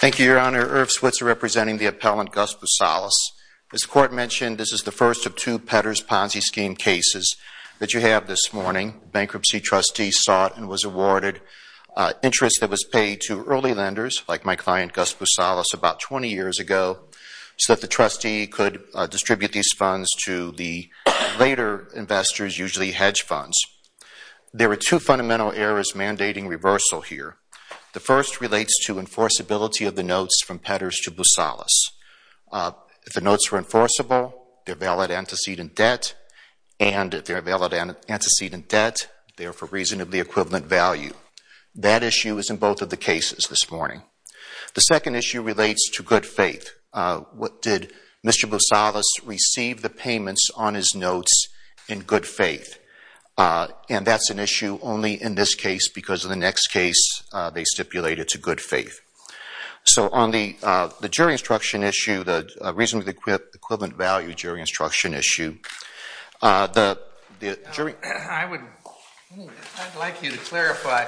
Thank you, Your Honor. Irv Switzer representing the appellant Gus Boosalis. As the Court mentioned, this is the first of two Petters Ponzi scheme cases that you have this morning. Bankruptcy trustees sought and was awarded interest that was paid to early lenders, like my client Gus Boosalis, about 20 years ago, so that the trustee could distribute these funds to the later investors, usually hedge funds. There are two fundamental errors mandating reversal here. The first relates to enforceability of the notes from Petters to Boosalis. If the notes were enforceable, they're valid antecedent debt, and if they're valid antecedent debt, they are for reasonably equivalent value. That issue is in both of the cases this morning. The second issue relates to good faith. Did Mr. Boosalis receive the payments on his notes in good faith? And that's an issue only in this case, because in the next case they stipulate it's a good faith. So on the jury instruction issue, the reasonably equivalent value jury instruction issue, the jury… I would like you to clarify,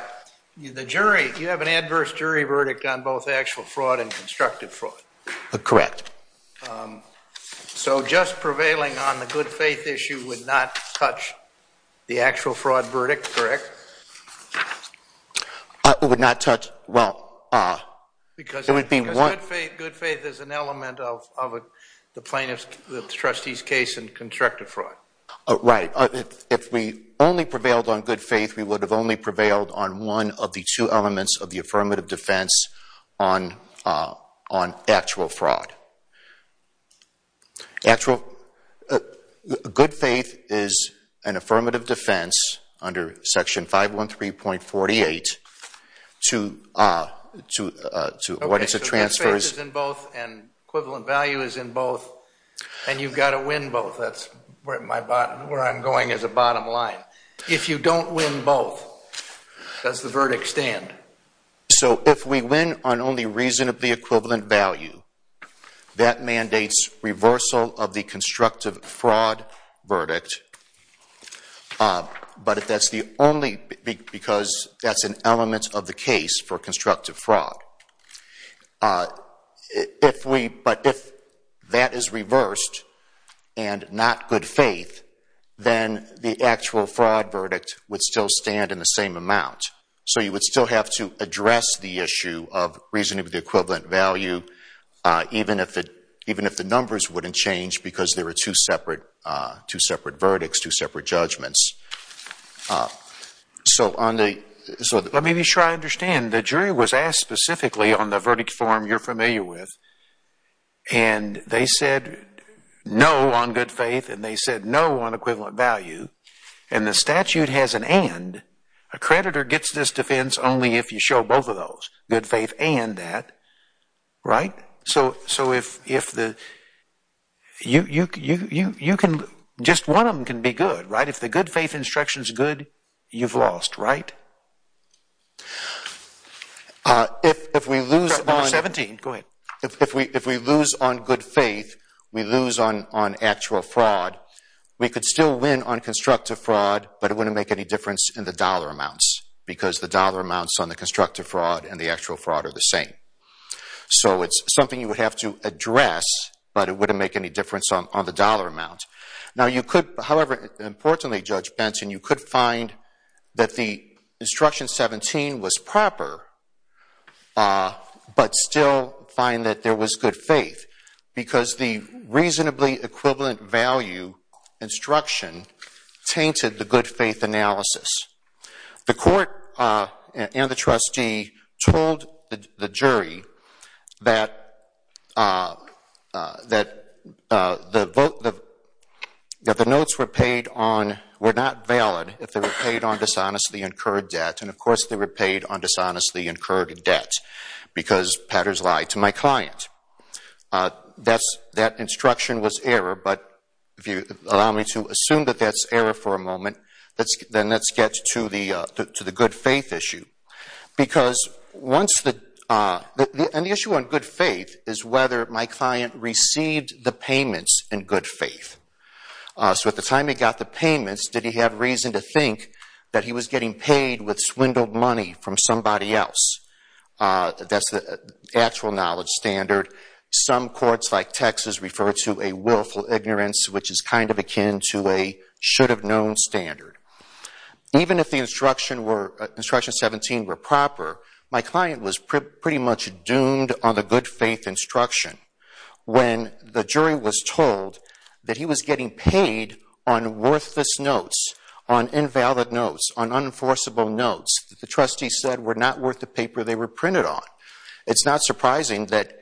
the jury, you have an adverse jury verdict on both actual and constructive fraud. Correct. So, just prevailing on the good faith issue would not touch the actual fraud verdict, correct? It would not touch, well, it would be one… Because good faith is an element of the plaintiff's, the trustee's case in constructive fraud. Right. If we only prevailed on good faith, we would have only prevailed on one of the two elements of the affirmative defense on actual fraud. Actual, good faith is an affirmative defense under section 513.48 to… Okay, so good faith is in both and equivalent value is in both, and you've got to win both. That's where I'm going as a bottom line. If you don't win both, does the verdict stand? So, if we win on only reasonably equivalent value, that mandates reversal of the constructive fraud verdict, but that's the only, because that's an element of the case for constructive fraud. If we, but if that is reversed and not good faith, then the actual fraud verdict would still stand in the same amount. So, you would still have to address the issue of reasonably equivalent value, even if the numbers wouldn't change because there are two separate verdicts, two separate judgments. So, let me be sure I understand. The jury was asked specifically on the verdict form you're familiar with, and they said no on good faith, and they said no on equivalent value, and the statute has an and. A creditor gets this defense only if you show both of those, good faith and that, right? So, if the, you can, just one of them can be good, right? If the good faith instruction is good, you've lost, right? If we lose on, if we lose on good faith, we lose on actual fraud, we could still win on constructive fraud, but it wouldn't make any difference in the dollar amounts, because the dollar amounts on the constructive fraud and the actual fraud are the same. So, it's something you would have to address, but it wouldn't make any difference on the dollar amounts. Now, you could, however, importantly, Judge Benton, you could find that the instruction 17 was proper, but still find that there was good faith, because the reasonably equivalent value instruction tainted the good faith analysis. The court and the trustee told the jury that the votes, that the notes were paid on, were not valid if they were paid on dishonestly incurred debt, and of course they were paid on dishonestly incurred debt, because patterns lie to my client. That instruction was error, but if you allow me to assume that that's error for a moment, then let's get to the good faith issue, because once the, and the issue on good faith is whether my client received the payments in good faith. So, at the time he got the payments, did he have reason to think that he was getting paid with swindled money from somebody else? That's the actual knowledge standard. Some courts, like Texas, refer to a willful ignorance, which is kind of akin to a should have known standard. Even if the instruction were, instruction 17 were proper, my client was pretty much doomed on the good faith instruction. When the jury was told that he was getting paid on worthless notes, on invalid notes, on unenforceable notes, the trustee said were not worth the paper they were printed on. It's not surprising that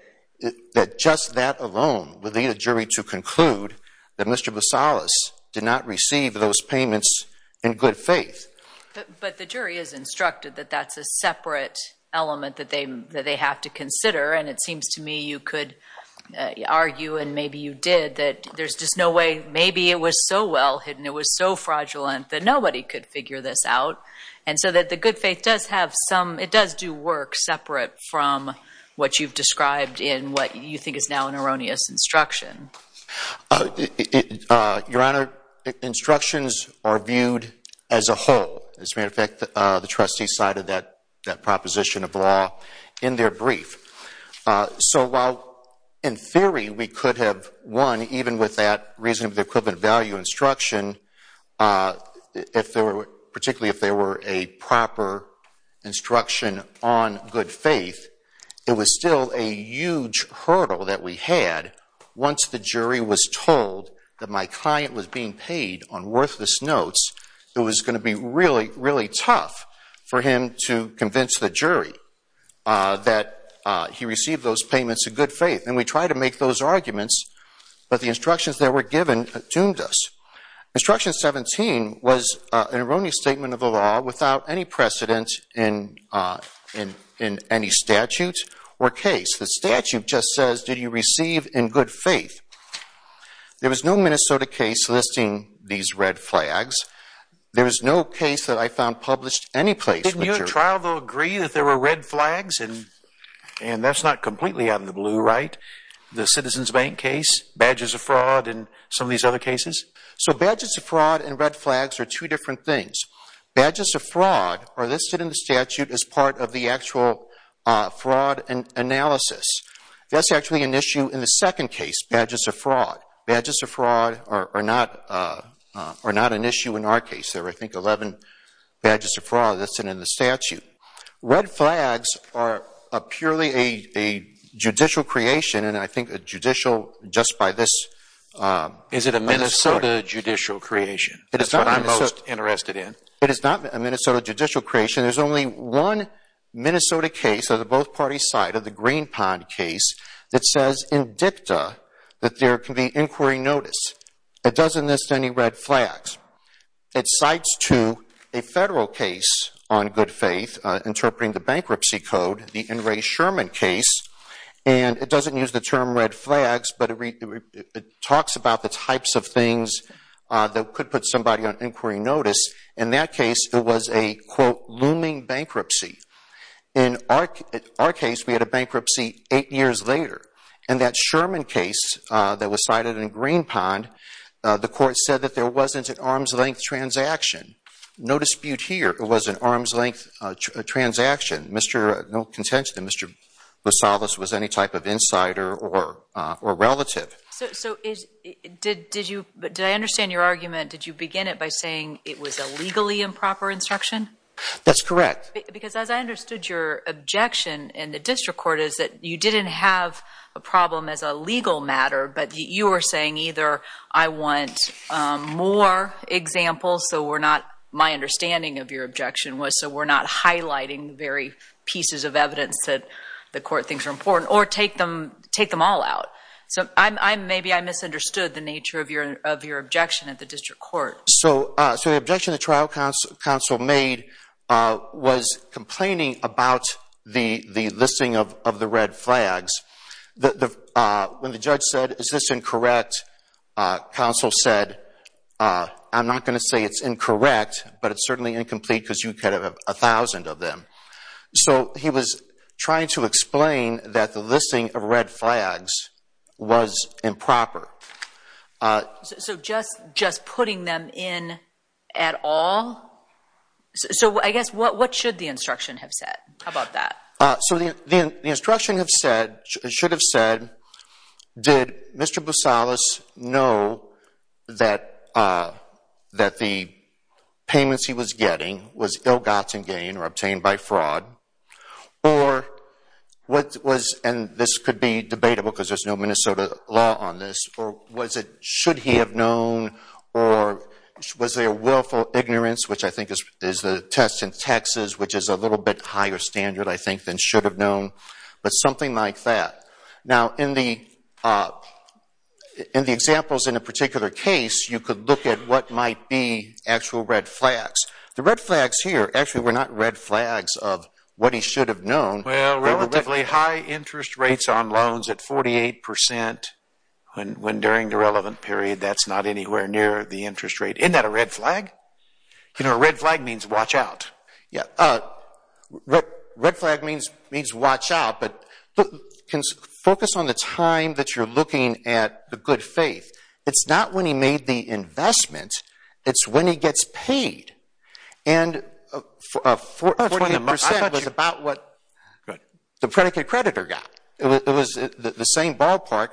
just that alone would lead a jury to conclude that Mr. Bosalis did not receive those payments in good faith. But the jury is instructed that that's a separate element that they have to consider, and it seems to me you could argue, and maybe you did, that there's just no way, maybe it was so well hidden, it was so fraudulent, that nobody could figure this out. And so that the good faith does have some, it does do work separate from what you've described in what you think is now an erroneous instruction. Your Honor, instructions are viewed as a whole. As a matter of fact, the trustee cited that proposition of law in their brief. So while in theory we could have won even with that reasonably equivalent value instruction, particularly if there were a proper instruction on good faith, it was still a huge hurdle that we had once the jury was told that my client was being paid on worthless notes. It was going to be really, really tough for him to convince the jury that he received those payments in good faith. And we tried to make those arguments, but the instructions that were given doomed us. Instruction 17 was an erroneous statement of the law without any precedent in any statute or case. The statute just says, did you receive in good faith? There was no Minnesota case listing these red flags. There was no case that I found published any place with jury. Didn't your trial though agree that there were red flags? And that's not completely out in the blue, right? The Citizens Bank case, badges of fraud, and some of these other cases? So badges of fraud and red flags are two different things. Badges of fraud are listed in the statute as part of the actual fraud analysis. That's actually an issue in the second case, badges of fraud. Badges of fraud are not an issue in our case. There is a judicial creation, and I think a judicial just by this... Is it a Minnesota judicial creation? That's what I'm most interested in. It is not a Minnesota judicial creation. There's only one Minnesota case of the both parties side of the Green Pond case that says in dicta that there can be inquiry notice. It doesn't list any red flags. It cites to a federal case on good faith, interpreting the bankruptcy code, the N. Ray Sherman case, and it doesn't use the term red flags, but it talks about the types of things that could put somebody on inquiry notice. In that case, it was a quote, looming bankruptcy. In our case, we had a bankruptcy eight years later, and that Sherman case that was cited in Green Pond, the court said that there wasn't an arm's reach. There was no contention that Mr. Bosalvis was any type of insider or relative. Did I understand your argument, did you begin it by saying it was a legally improper instruction? That's correct. Because as I understood your objection in the district court is that you didn't have a problem as a legal matter, but you were saying either I want more examples, so we're not highlighting very pieces of evidence that the court thinks are important, or take them all out. Maybe I misunderstood the nature of your objection at the district court. So the objection the trial counsel made was complaining about the listing of the red flags. When the judge said, is this incorrect, counsel said, I'm not going to say it's incorrect, but it's certainly incomplete because you could have a thousand of them. So he was trying to explain that the listing of red flags was improper. So just putting them in at all? So I guess what should the instruction have said about that? So the instruction should have said, did Mr. Bosalvis know that the payments he was getting was ill-gotten gain or obtained by fraud, and this could be debatable because there's no Minnesota law on this, or should he have known, or was there willful ignorance, which I think is the test in Texas, which is a little bit higher standard, I think, than should have known, but something like that. Now, in the examples in a particular case, you could look at what might be actual red flags. The red flags here actually were not red flags of what he should have known. Well, relatively high interest rates on loans at 48 percent when during the relevant period that's not anywhere near the interest rate. Isn't that a red flag? You know, a red flag means watch out. Red flag means watch out, but focus on the time that you're looking at the good faith. It's not when he made the investment, it's when he gets paid. And 48 percent was about what the predicate creditor got. It was the same ballpark.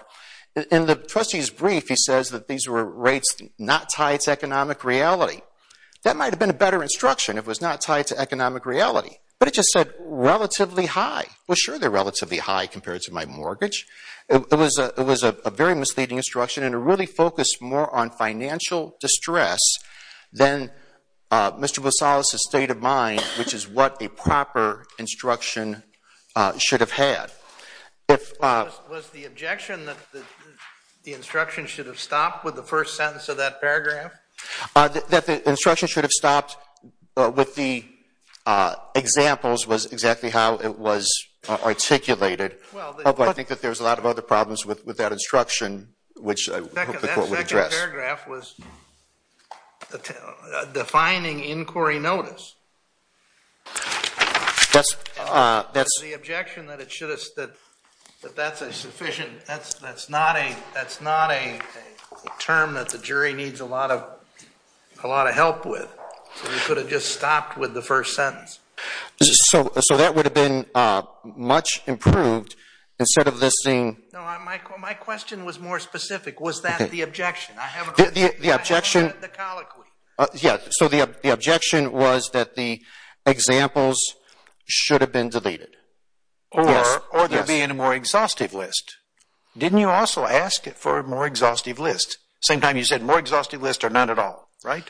In the trustee's brief, he said these were rates not tied to economic reality. That might have been a better instruction if it was not tied to economic reality, but it just said relatively high. Well, sure, they're relatively high compared to my mortgage. It was a very misleading instruction and it really focused more on financial distress than Mr. Bosalis' state of mind, which is what a proper instruction should have had. Was the objection that the instruction should have stopped with the first sentence of that paragraph? That the instruction should have stopped with the examples was exactly how it was articulated, although I think that there was a lot of other problems with that instruction, which I hope the Court would address. That second paragraph was defining inquiry notice. The objection that that's a sufficient, that's not a term that the jury needs a lot of help with, so we could have just stopped with the first sentence. So that would have been much improved instead of this being… No, my question was more specific. Was that the objection? The objection… I haven't read the colloquy. Yeah, so the objection was that the examples should have been deleted. Or they'd be in a more exhaustive list. Didn't you also ask for a more exhaustive list? Same time you said more exhaustive list or none at all, right?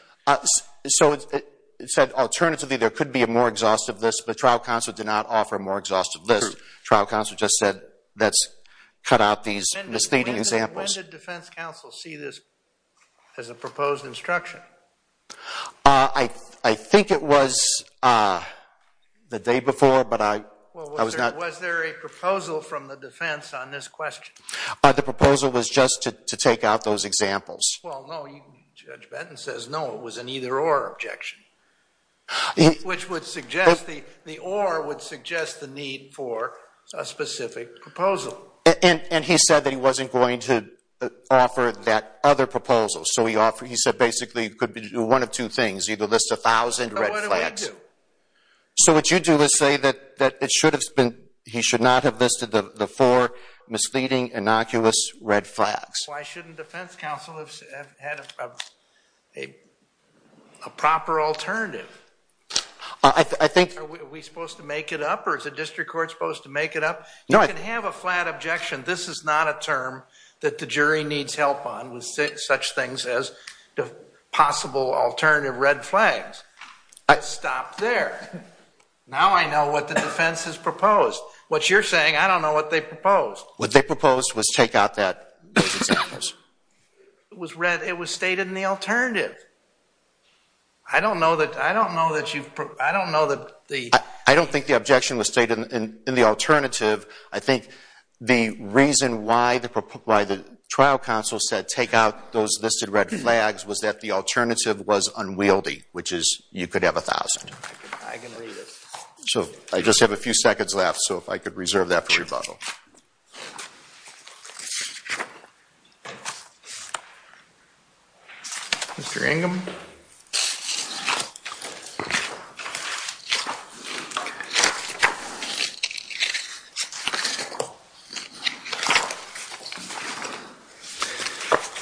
So it said alternatively there could be a more exhaustive list, but trial counsel did not offer a more exhaustive list. True. Trial counsel just said let's cut out these misleading examples. When did defense counsel see this as a proposed instruction? I think it was the day before, but I was not… Well, was there a proposal from the defense on this question? The proposal was just to take out those examples. Well, no, Judge Benton says no, it was an either or objection, which would suggest the or would suggest the need for a specific proposal. And he said that he wasn't going to offer that other proposal, so he said basically it could be one of two things, either list a thousand red flags. So what do I do? So what you do is say that he should not have listed the four misleading, innocuous red flags. Why shouldn't defense counsel have had a proper alternative? I think… Are we supposed to make it up or is the district court supposed to make it up? You can have a flat objection. This is not a term that the jury needs help on with such things as possible alternative red flags. Stop there. Now I know what the defense has proposed. What you're saying, I don't know what they proposed. What they proposed was take out those examples. It was stated in the alternative. I don't know that you've… I don't think the objection was stated in the alternative. I think the reason why the trial counsel said take out those listed red flags was that the alternative was unwieldy, which is you could have a thousand. I can read it. So I just have a few seconds left, so if I could reserve that for rebuttal. Mr. Ingham?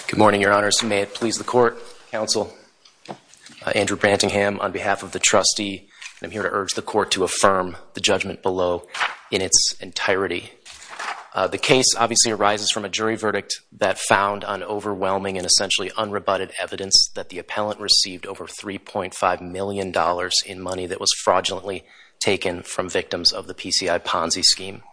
Good morning, Your Honors. May it please the court, counsel, Andrew Brantingham, on behalf of the trustee, I'm here to urge the court to affirm the judgment below in its entirety. The case obviously arises from a jury verdict that found on overwhelming and essentially unrebutted evidence that the appellant received over $3.5 million in money that was fraudulently taken from victims of the PCI Ponzi scheme.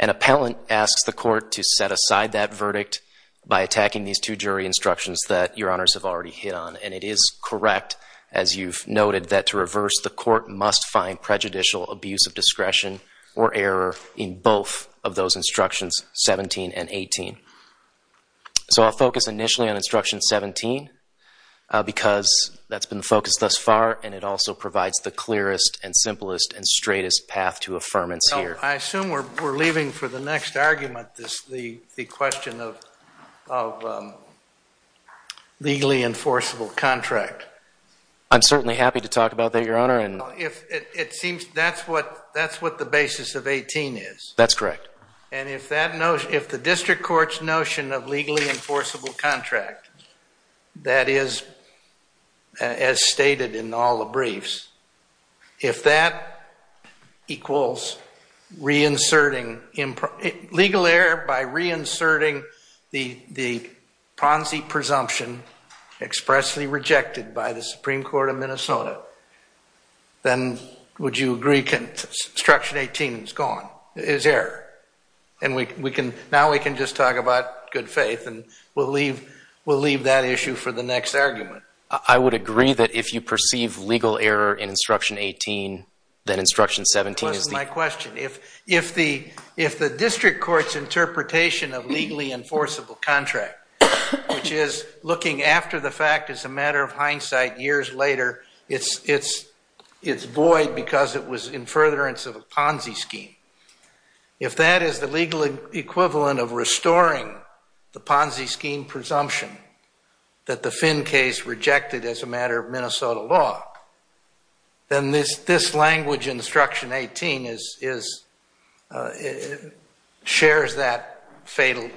An appellant asks the court to set aside that verdict by attacking these two jury instructions that Your Honors have already hit on, and it is correct, as you've noted, that to reverse the court must find prejudicial abuse of discretion or error in both of those instructions, 17 and 18. So I'll focus initially on instruction 17, because that's been the focus thus far, and it also provides the clearest and simplest and straightest path to affirmance here. I assume we're leaving for the next argument the question of legally enforceable contract. I'm certainly happy to talk about that, Your Honor. That's what the basis of 18 is. That's correct. And if the district court's notion of legally enforceable contract, that is as stated in all the briefs, if that equals legal error by reinserting the Ponzi presumption expressly rejected by the Supreme Court of Minnesota, then would you agree instruction 18 is gone, is error? And now we can just talk about good faith, and we'll leave that issue for the next argument. I would agree that if you perceive legal error in instruction 18, then instruction 17 is the... That's my question. If the district court's interpretation of legally enforceable contract, which is looking after the fact as a matter of hindsight years later, it's void because it was in furtherance of a Ponzi scheme. If that is the legal equivalent of restoring the Ponzi scheme presumption that the Finn case rejected as a matter of Minnesota law, then this language in instruction 18 shares that fatal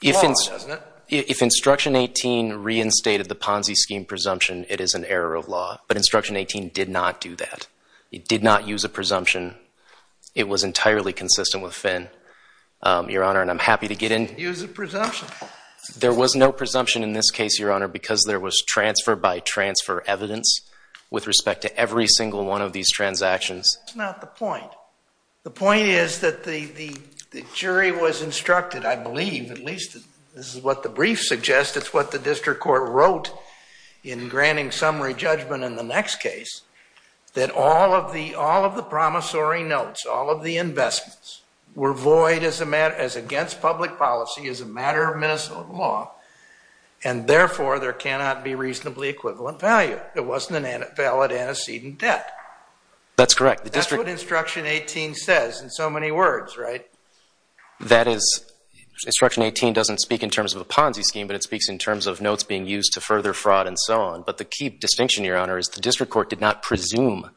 flaw, doesn't it? If instruction 18 reinstated the Ponzi scheme presumption, it is an error of law. But instruction 18 did not do that. It did not use a presumption. It was entirely consistent with Finn, Your Honor, and I'm happy to get in... Use a presumption. There was no presumption in this case, Your Honor, because there was transfer by transfer evidence with respect to every single one of these transactions. That's not the point. The point is that the jury was instructed, I believe, at least this is what the brief suggests, it's what the district court wrote in granting summary judgment in the next case, that all of the promissory notes, all of the investments, were void as against public policy as a matter of Minnesota law, and therefore there cannot be reasonably equivalent value. There wasn't a valid antecedent debt. That's correct. That's what instruction 18 says in so many words, right? That is, instruction 18 doesn't speak in terms of a Ponzi scheme, but it speaks in terms of notes being used to further fraud and so on. But the key distinction, Your Honor, is the district court did not presume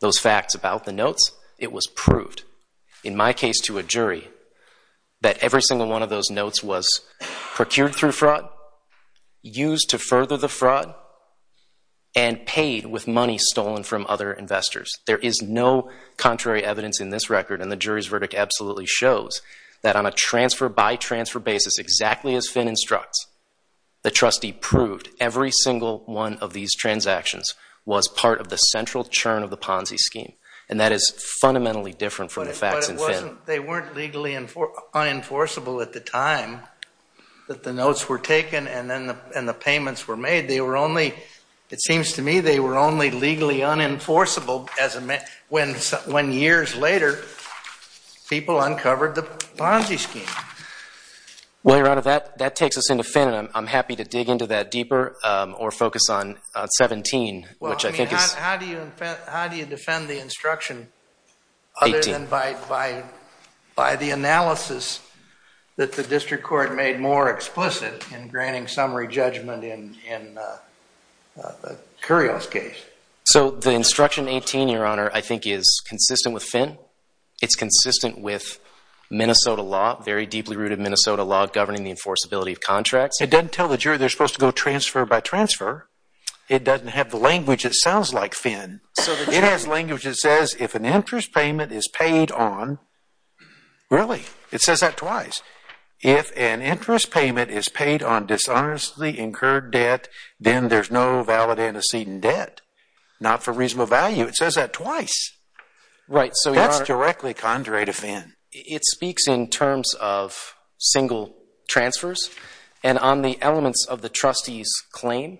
those facts about the notes. It was proved. In my case to a jury, that every single one of those notes was procured through fraud, used to further the fraud, and paid with money stolen from other investors. There is no contrary evidence in this record, and the jury's verdict absolutely shows that on a transfer by transfer basis, exactly as Finn instructs, the trustee proved every single one of these transactions was part of the central churn of the Ponzi scheme, and that is fundamentally different from the facts in Finn. But they weren't legally unenforceable at the time that the notes were taken and the payments were made. They were only, it seems to me, they were only legally unenforceable when years later people uncovered the Ponzi scheme. Well, Your Honor, that takes us into Finn, and I'm happy to dig into that deeper or focus on 17, which I think is. How do you defend the instruction other than by the analysis that the district court made more explicit in granting summary judgment in Curio's case? So the instruction 18, Your Honor, I think is consistent with Finn. It's consistent with Minnesota law, very deeply rooted Minnesota law governing the enforceability of contracts. It doesn't tell the jury they're supposed to go transfer by transfer. It doesn't have the language that sounds like Finn. It has language that says if an interest payment is paid on, really, it says that twice. If an interest payment is paid on dishonestly incurred debt, then there's no valid antecedent debt, not for reasonable value. It says that twice. That's directly contrary to Finn. It speaks in terms of single transfers, and on the elements of the trustee's claim,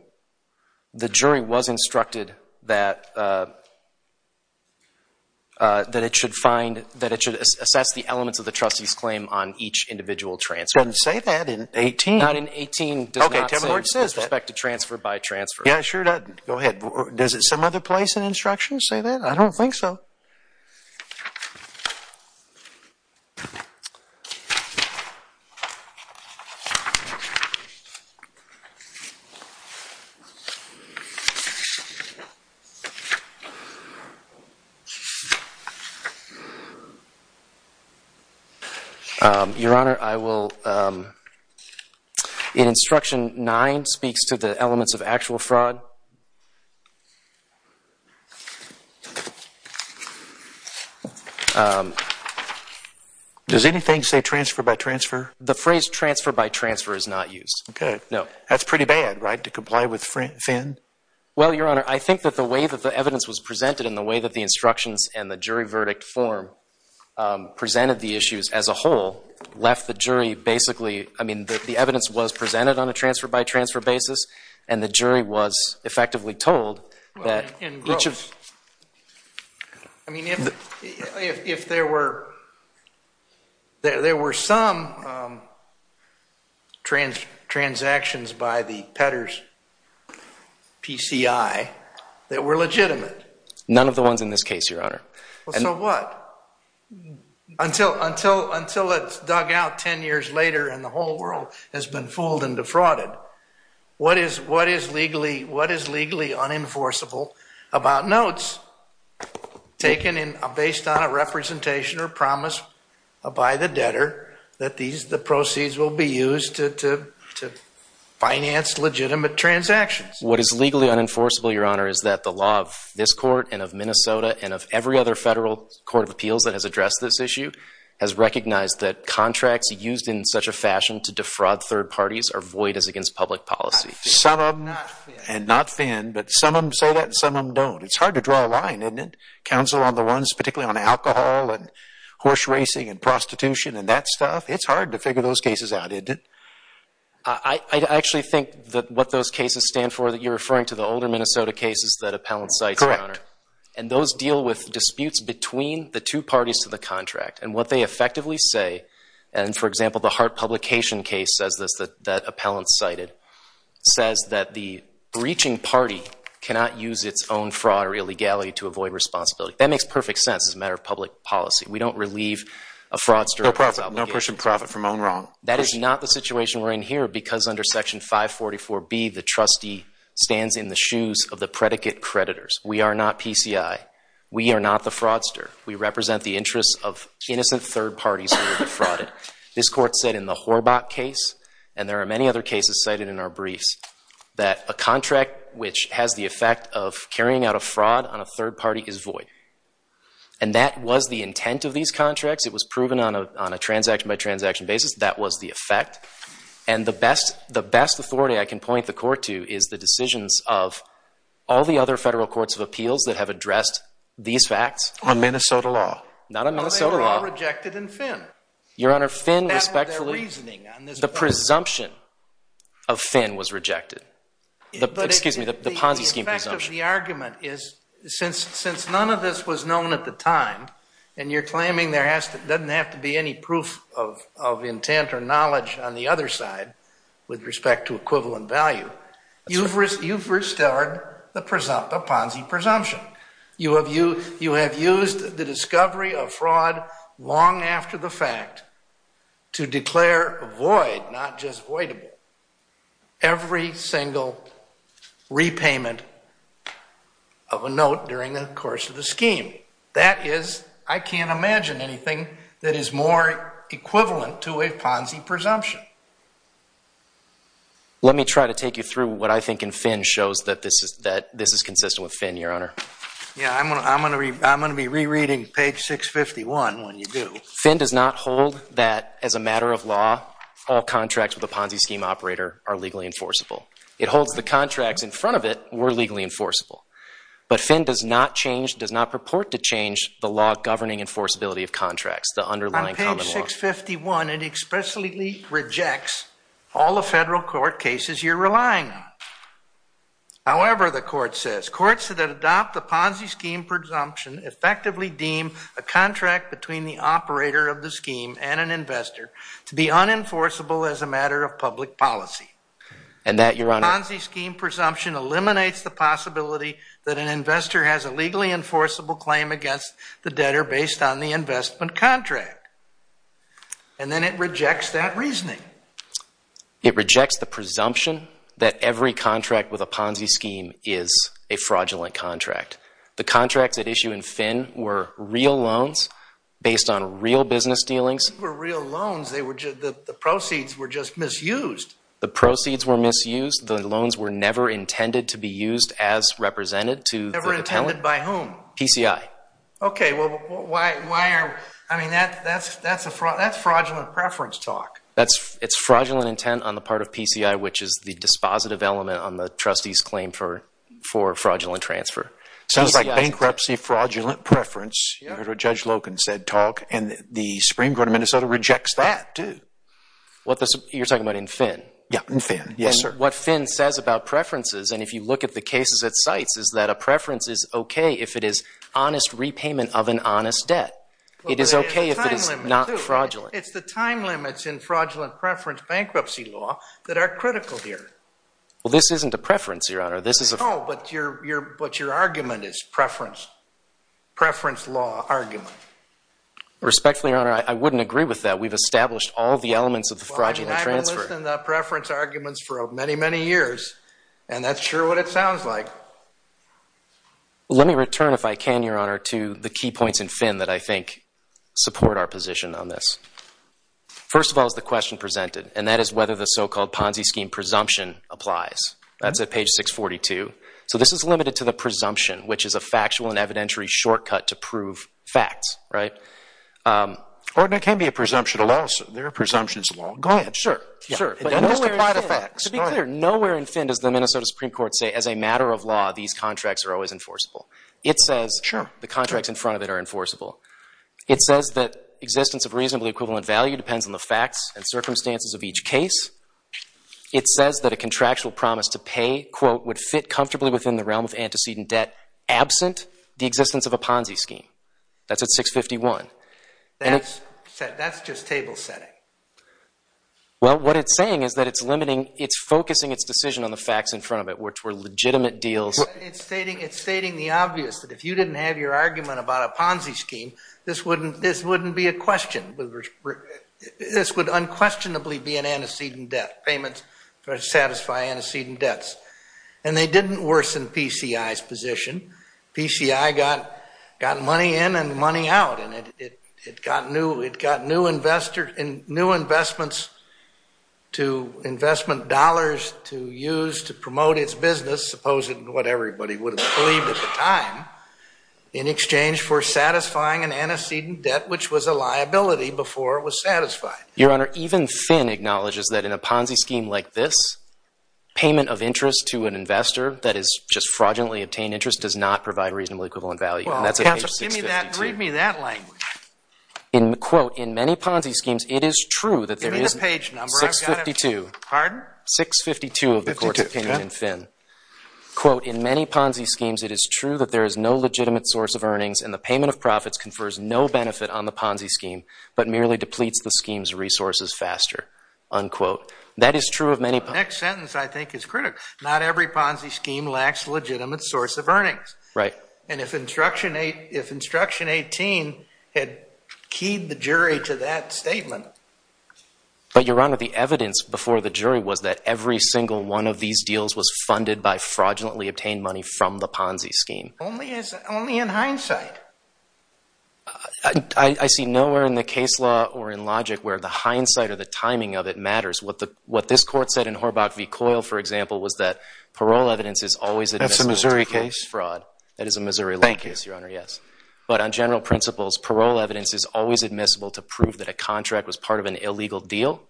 the jury was instructed that it should find, that it should assess the elements of the trustee's claim on each individual transfer. It doesn't say that in 18. Not in 18. Okay, tell me where it says that. It does not say with respect to transfer by transfer. Yeah, it sure doesn't. Go ahead. Does it some other place in instruction say that? I don't think so. Your Honor, I will, in instruction nine speaks to the elements of actual fraud. Does anything say transfer by transfer? The phrase transfer by transfer is not used. Okay. No. That's pretty bad, right, to comply with Finn? Well, Your Honor, I think that the way that the evidence was presented and the way that the instructions and the jury verdict form presented the issues as a whole left the jury basically, I mean, the evidence was presented on a transfer by transfer basis, and the jury was effectively told that. I mean, if there were some transactions by the Petters PCI that were legitimate. None of the ones in this case, Your Honor. So what? Until it's dug out 10 years later and the whole world has been fooled and defrauded, what is legally unenforceable about notes taken based on a representation or promise by the debtor that the proceeds will be used to finance legitimate transactions? What is legally unenforceable, Your Honor, is that the law of this court and of Minnesota and of every other federal court of appeals that has addressed this issue has recognized that contracts used in such a fashion to defraud third parties are void as against public policy. Some of them, and not Finn, but some of them say that and some of them don't. It's hard to draw a line, isn't it, counsel on the ones particularly on alcohol and horse racing and prostitution and that stuff? It's hard to figure those cases out, isn't it? I actually think that what those cases stand for that you're referring to, Correct. and those deal with disputes between the two parties to the contract and what they effectively say and, for example, the Hart Publication case, as that appellant cited, says that the breaching party cannot use its own fraud or illegality to avoid responsibility. That makes perfect sense as a matter of public policy. We don't relieve a fraudster of his obligation. No push and profit from own wrong. That is not the situation we're in here because under Section 544B, the trustee stands in the shoes of the predicate creditors. We are not PCI. We are not the fraudster. We represent the interests of innocent third parties who were defrauded. This court said in the Horbach case, and there are many other cases cited in our briefs, that a contract which has the effect of carrying out a fraud on a third party is void, and that was the intent of these contracts. It was proven on a transaction-by-transaction basis. That was the effect, and the best authority I can point the court to is the decisions of all the other federal courts of appeals that have addressed these facts. On Minnesota law? Not on Minnesota law. Well, they were all rejected in Finn. Your Honor, Finn, respectfully, the presumption of Finn was rejected. Excuse me, the Ponzi scheme presumption. But the effect of the argument is since none of this was known at the time, and you're claiming there doesn't have to be any proof of intent or knowledge on the other side with respect to equivalent value, you've restored the Ponzi presumption. You have used the discovery of fraud long after the fact to declare void, not just voidable, every single repayment of a note during the course of the scheme. That is, I can't imagine anything that is more equivalent to a Ponzi presumption. Let me try to take you through what I think in Finn shows that this is consistent with Finn, Your Honor. Yeah, I'm going to be rereading page 651 when you do. Finn does not hold that as a matter of law, all contracts with a Ponzi scheme operator are legally enforceable. It holds the contracts in front of it were legally enforceable. But Finn does not change, does not purport to change, the law governing enforceability of contracts, the underlying common law. On page 651, it expressly rejects all the federal court cases you're relying on. However, the court says, courts that adopt the Ponzi scheme presumption effectively deem a contract between the operator of the scheme and an investor to be unenforceable as a matter of public policy. And that, Your Honor, the Ponzi scheme presumption eliminates the possibility that an investor has a legally enforceable claim against the debtor based on the investment contract. And then it rejects that reasoning. It rejects the presumption that every contract with a Ponzi scheme is a fraudulent contract. The contracts at issue in Finn were real loans based on real business dealings. They were real loans. The proceeds were just misused. The proceeds were misused. The loans were never intended to be used as represented to the dependent. Never intended by whom? PCI. Okay, well, why are we? I mean, that's fraudulent preference talk. It's fraudulent intent on the part of PCI, which is the dispositive element on the trustee's claim for fraudulent transfer. Sounds like bankruptcy fraudulent preference. You heard what Judge Logan said talk, and the Supreme Court of Minnesota rejects that too. You're talking about in Finn? Yeah, in Finn. And what Finn says about preferences, and if you look at the cases at sites, is that a preference is okay if it is honest repayment of an honest debt. It is okay if it is not fraudulent. It's the time limits in fraudulent preference bankruptcy law that are critical here. Well, this isn't a preference, Your Honor. No, but your argument is preference law argument. Respectfully, Your Honor, I wouldn't agree with that. We've established all the elements of the fraudulent transfer. Well, I mean, I've been listening to preference arguments for many, many years, and that's sure what it sounds like. Let me return, if I can, Your Honor, to the key points in Finn that I think support our position on this. First of all is the question presented, and that is whether the so-called Ponzi scheme presumption applies. That's at page 642. So this is limited to the presumption, which is a factual and evidentiary shortcut to prove facts, right? Or it can be a presumption of law, sir. There are presumptions of law. Go ahead. Sure. To be clear, nowhere in Finn does the Minnesota Supreme Court say, as a matter of law, these contracts are always enforceable. It says the contracts in front of it are enforceable. It says that existence of reasonably equivalent value depends on the facts and circumstances of each case. It says that a contractual promise to pay, quote, would fit comfortably within the realm of antecedent debt absent the existence of a Ponzi scheme. That's at 651. That's just table setting. Well, what it's saying is that it's limiting, it's focusing its decision on the facts in front of it, which were legitimate deals. It's stating the obvious, that if you didn't have your argument about a Ponzi scheme, this wouldn't be a question. This would unquestionably be an antecedent debt, payments that satisfy antecedent debts. And they didn't worsen PCI's position. PCI got money in and money out, and it got new investments to investment dollars to use to promote its business, supposing what everybody would have believed at the time, in exchange for satisfying an antecedent debt, which was a liability before it was satisfied. Your Honor, even Finn acknowledges that in a Ponzi scheme like this, payment of interest to an investor that has just fraudulently obtained interest does not provide reasonable equivalent value. Well, counsel, read me that language. Quote, in many Ponzi schemes, it is true that there is... Give me the page number. 652. Pardon? 652 of the Court's opinion in Finn. Quote, in many Ponzi schemes, it is true that there is no legitimate source of earnings, and the payment of profits confers no benefit on the Ponzi scheme, but merely depletes the scheme's resources faster. Unquote. That is true of many... The next sentence, I think, is critical. Not every Ponzi scheme lacks a legitimate source of earnings. Right. And if Instruction 18 had keyed the jury to that statement... But, Your Honor, the evidence before the jury was that every single one of these deals was funded by fraudulently obtained money from the Ponzi scheme. Only in hindsight. I see nowhere in the case law or in logic where the hindsight or the timing of it matters. What this Court said in Horbach v. Coyle, for example, was that parole evidence is always admissible to prove fraud. That's a Missouri case? That is a Missouri law case, Your Honor, yes. But on general principles, parole evidence is always admissible to prove that a contract was part of an illegal deal.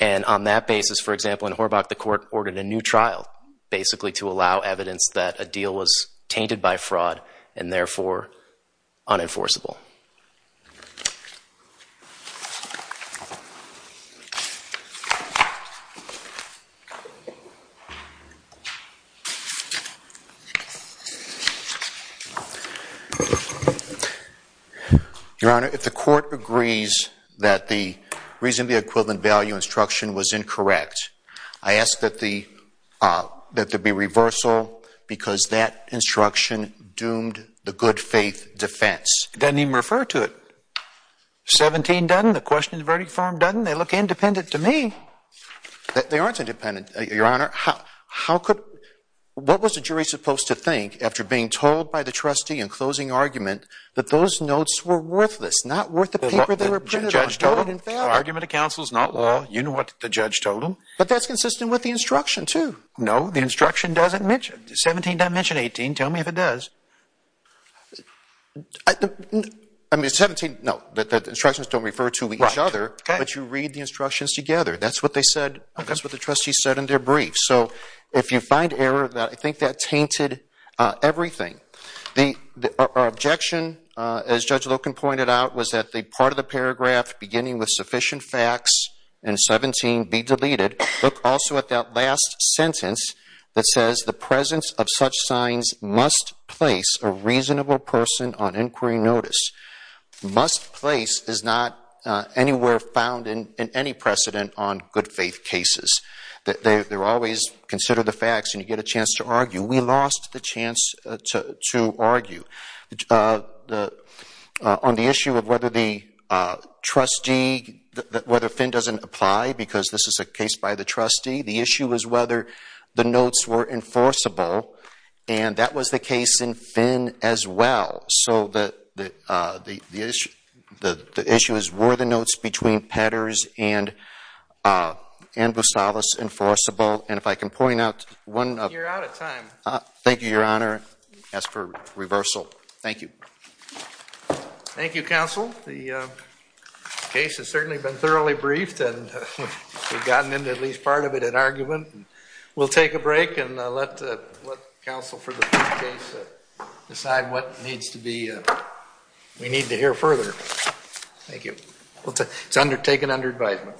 And on that basis, for example, in Horbach, the Court ordered a new trial, basically to allow evidence that a deal was tainted by fraud and therefore unenforceable. Your Honor, if the Court agrees that the Reasonably Equivalent Value instruction was incorrect, I ask that there be reversal because that instruction doomed the good faith defense. It doesn't even refer to it. 17 doesn't. They look independent to me. They aren't independent, Your Honor. What was the jury supposed to think after being told by the trustee in closing argument that those notes were worthless, not worth the paper they were printed on? The argument of counsel is not law. You know what the judge told them. But that's consistent with the instruction, too. No, the instruction doesn't mention it. 17 doesn't mention 18. Tell me if it does. The instructions don't refer to each other, but you read the instructions together. That's what they said. That's what the trustee said in their brief. So if you find error, I think that tainted everything. Our objection, as Judge Loken pointed out, was that the part of the paragraph beginning with sufficient facts in 17 be deleted. Look also at that last sentence that says the presence of such signs must place a reasonable person on inquiry notice. Must place is not anywhere found in any precedent on good faith cases. They're always consider the facts and you get a chance to argue. We lost the chance to argue. On the issue of whether the trustee, whether Finn doesn't apply because this is a case by the trustee, the issue is whether the notes were enforceable. And that was the case in Finn as well. So the issue is, were the notes between Petters and Bustalis enforceable? And if I can point out one... You're out of time. Thank you, Your Honor. I ask for reversal. Thank you. Thank you, Counsel. The case has certainly been thoroughly briefed and we've gotten into at least part of it in argument. We'll take a break and let Counsel for the brief case decide what needs to be... We need to hear further. Thank you. It's taken under advisement.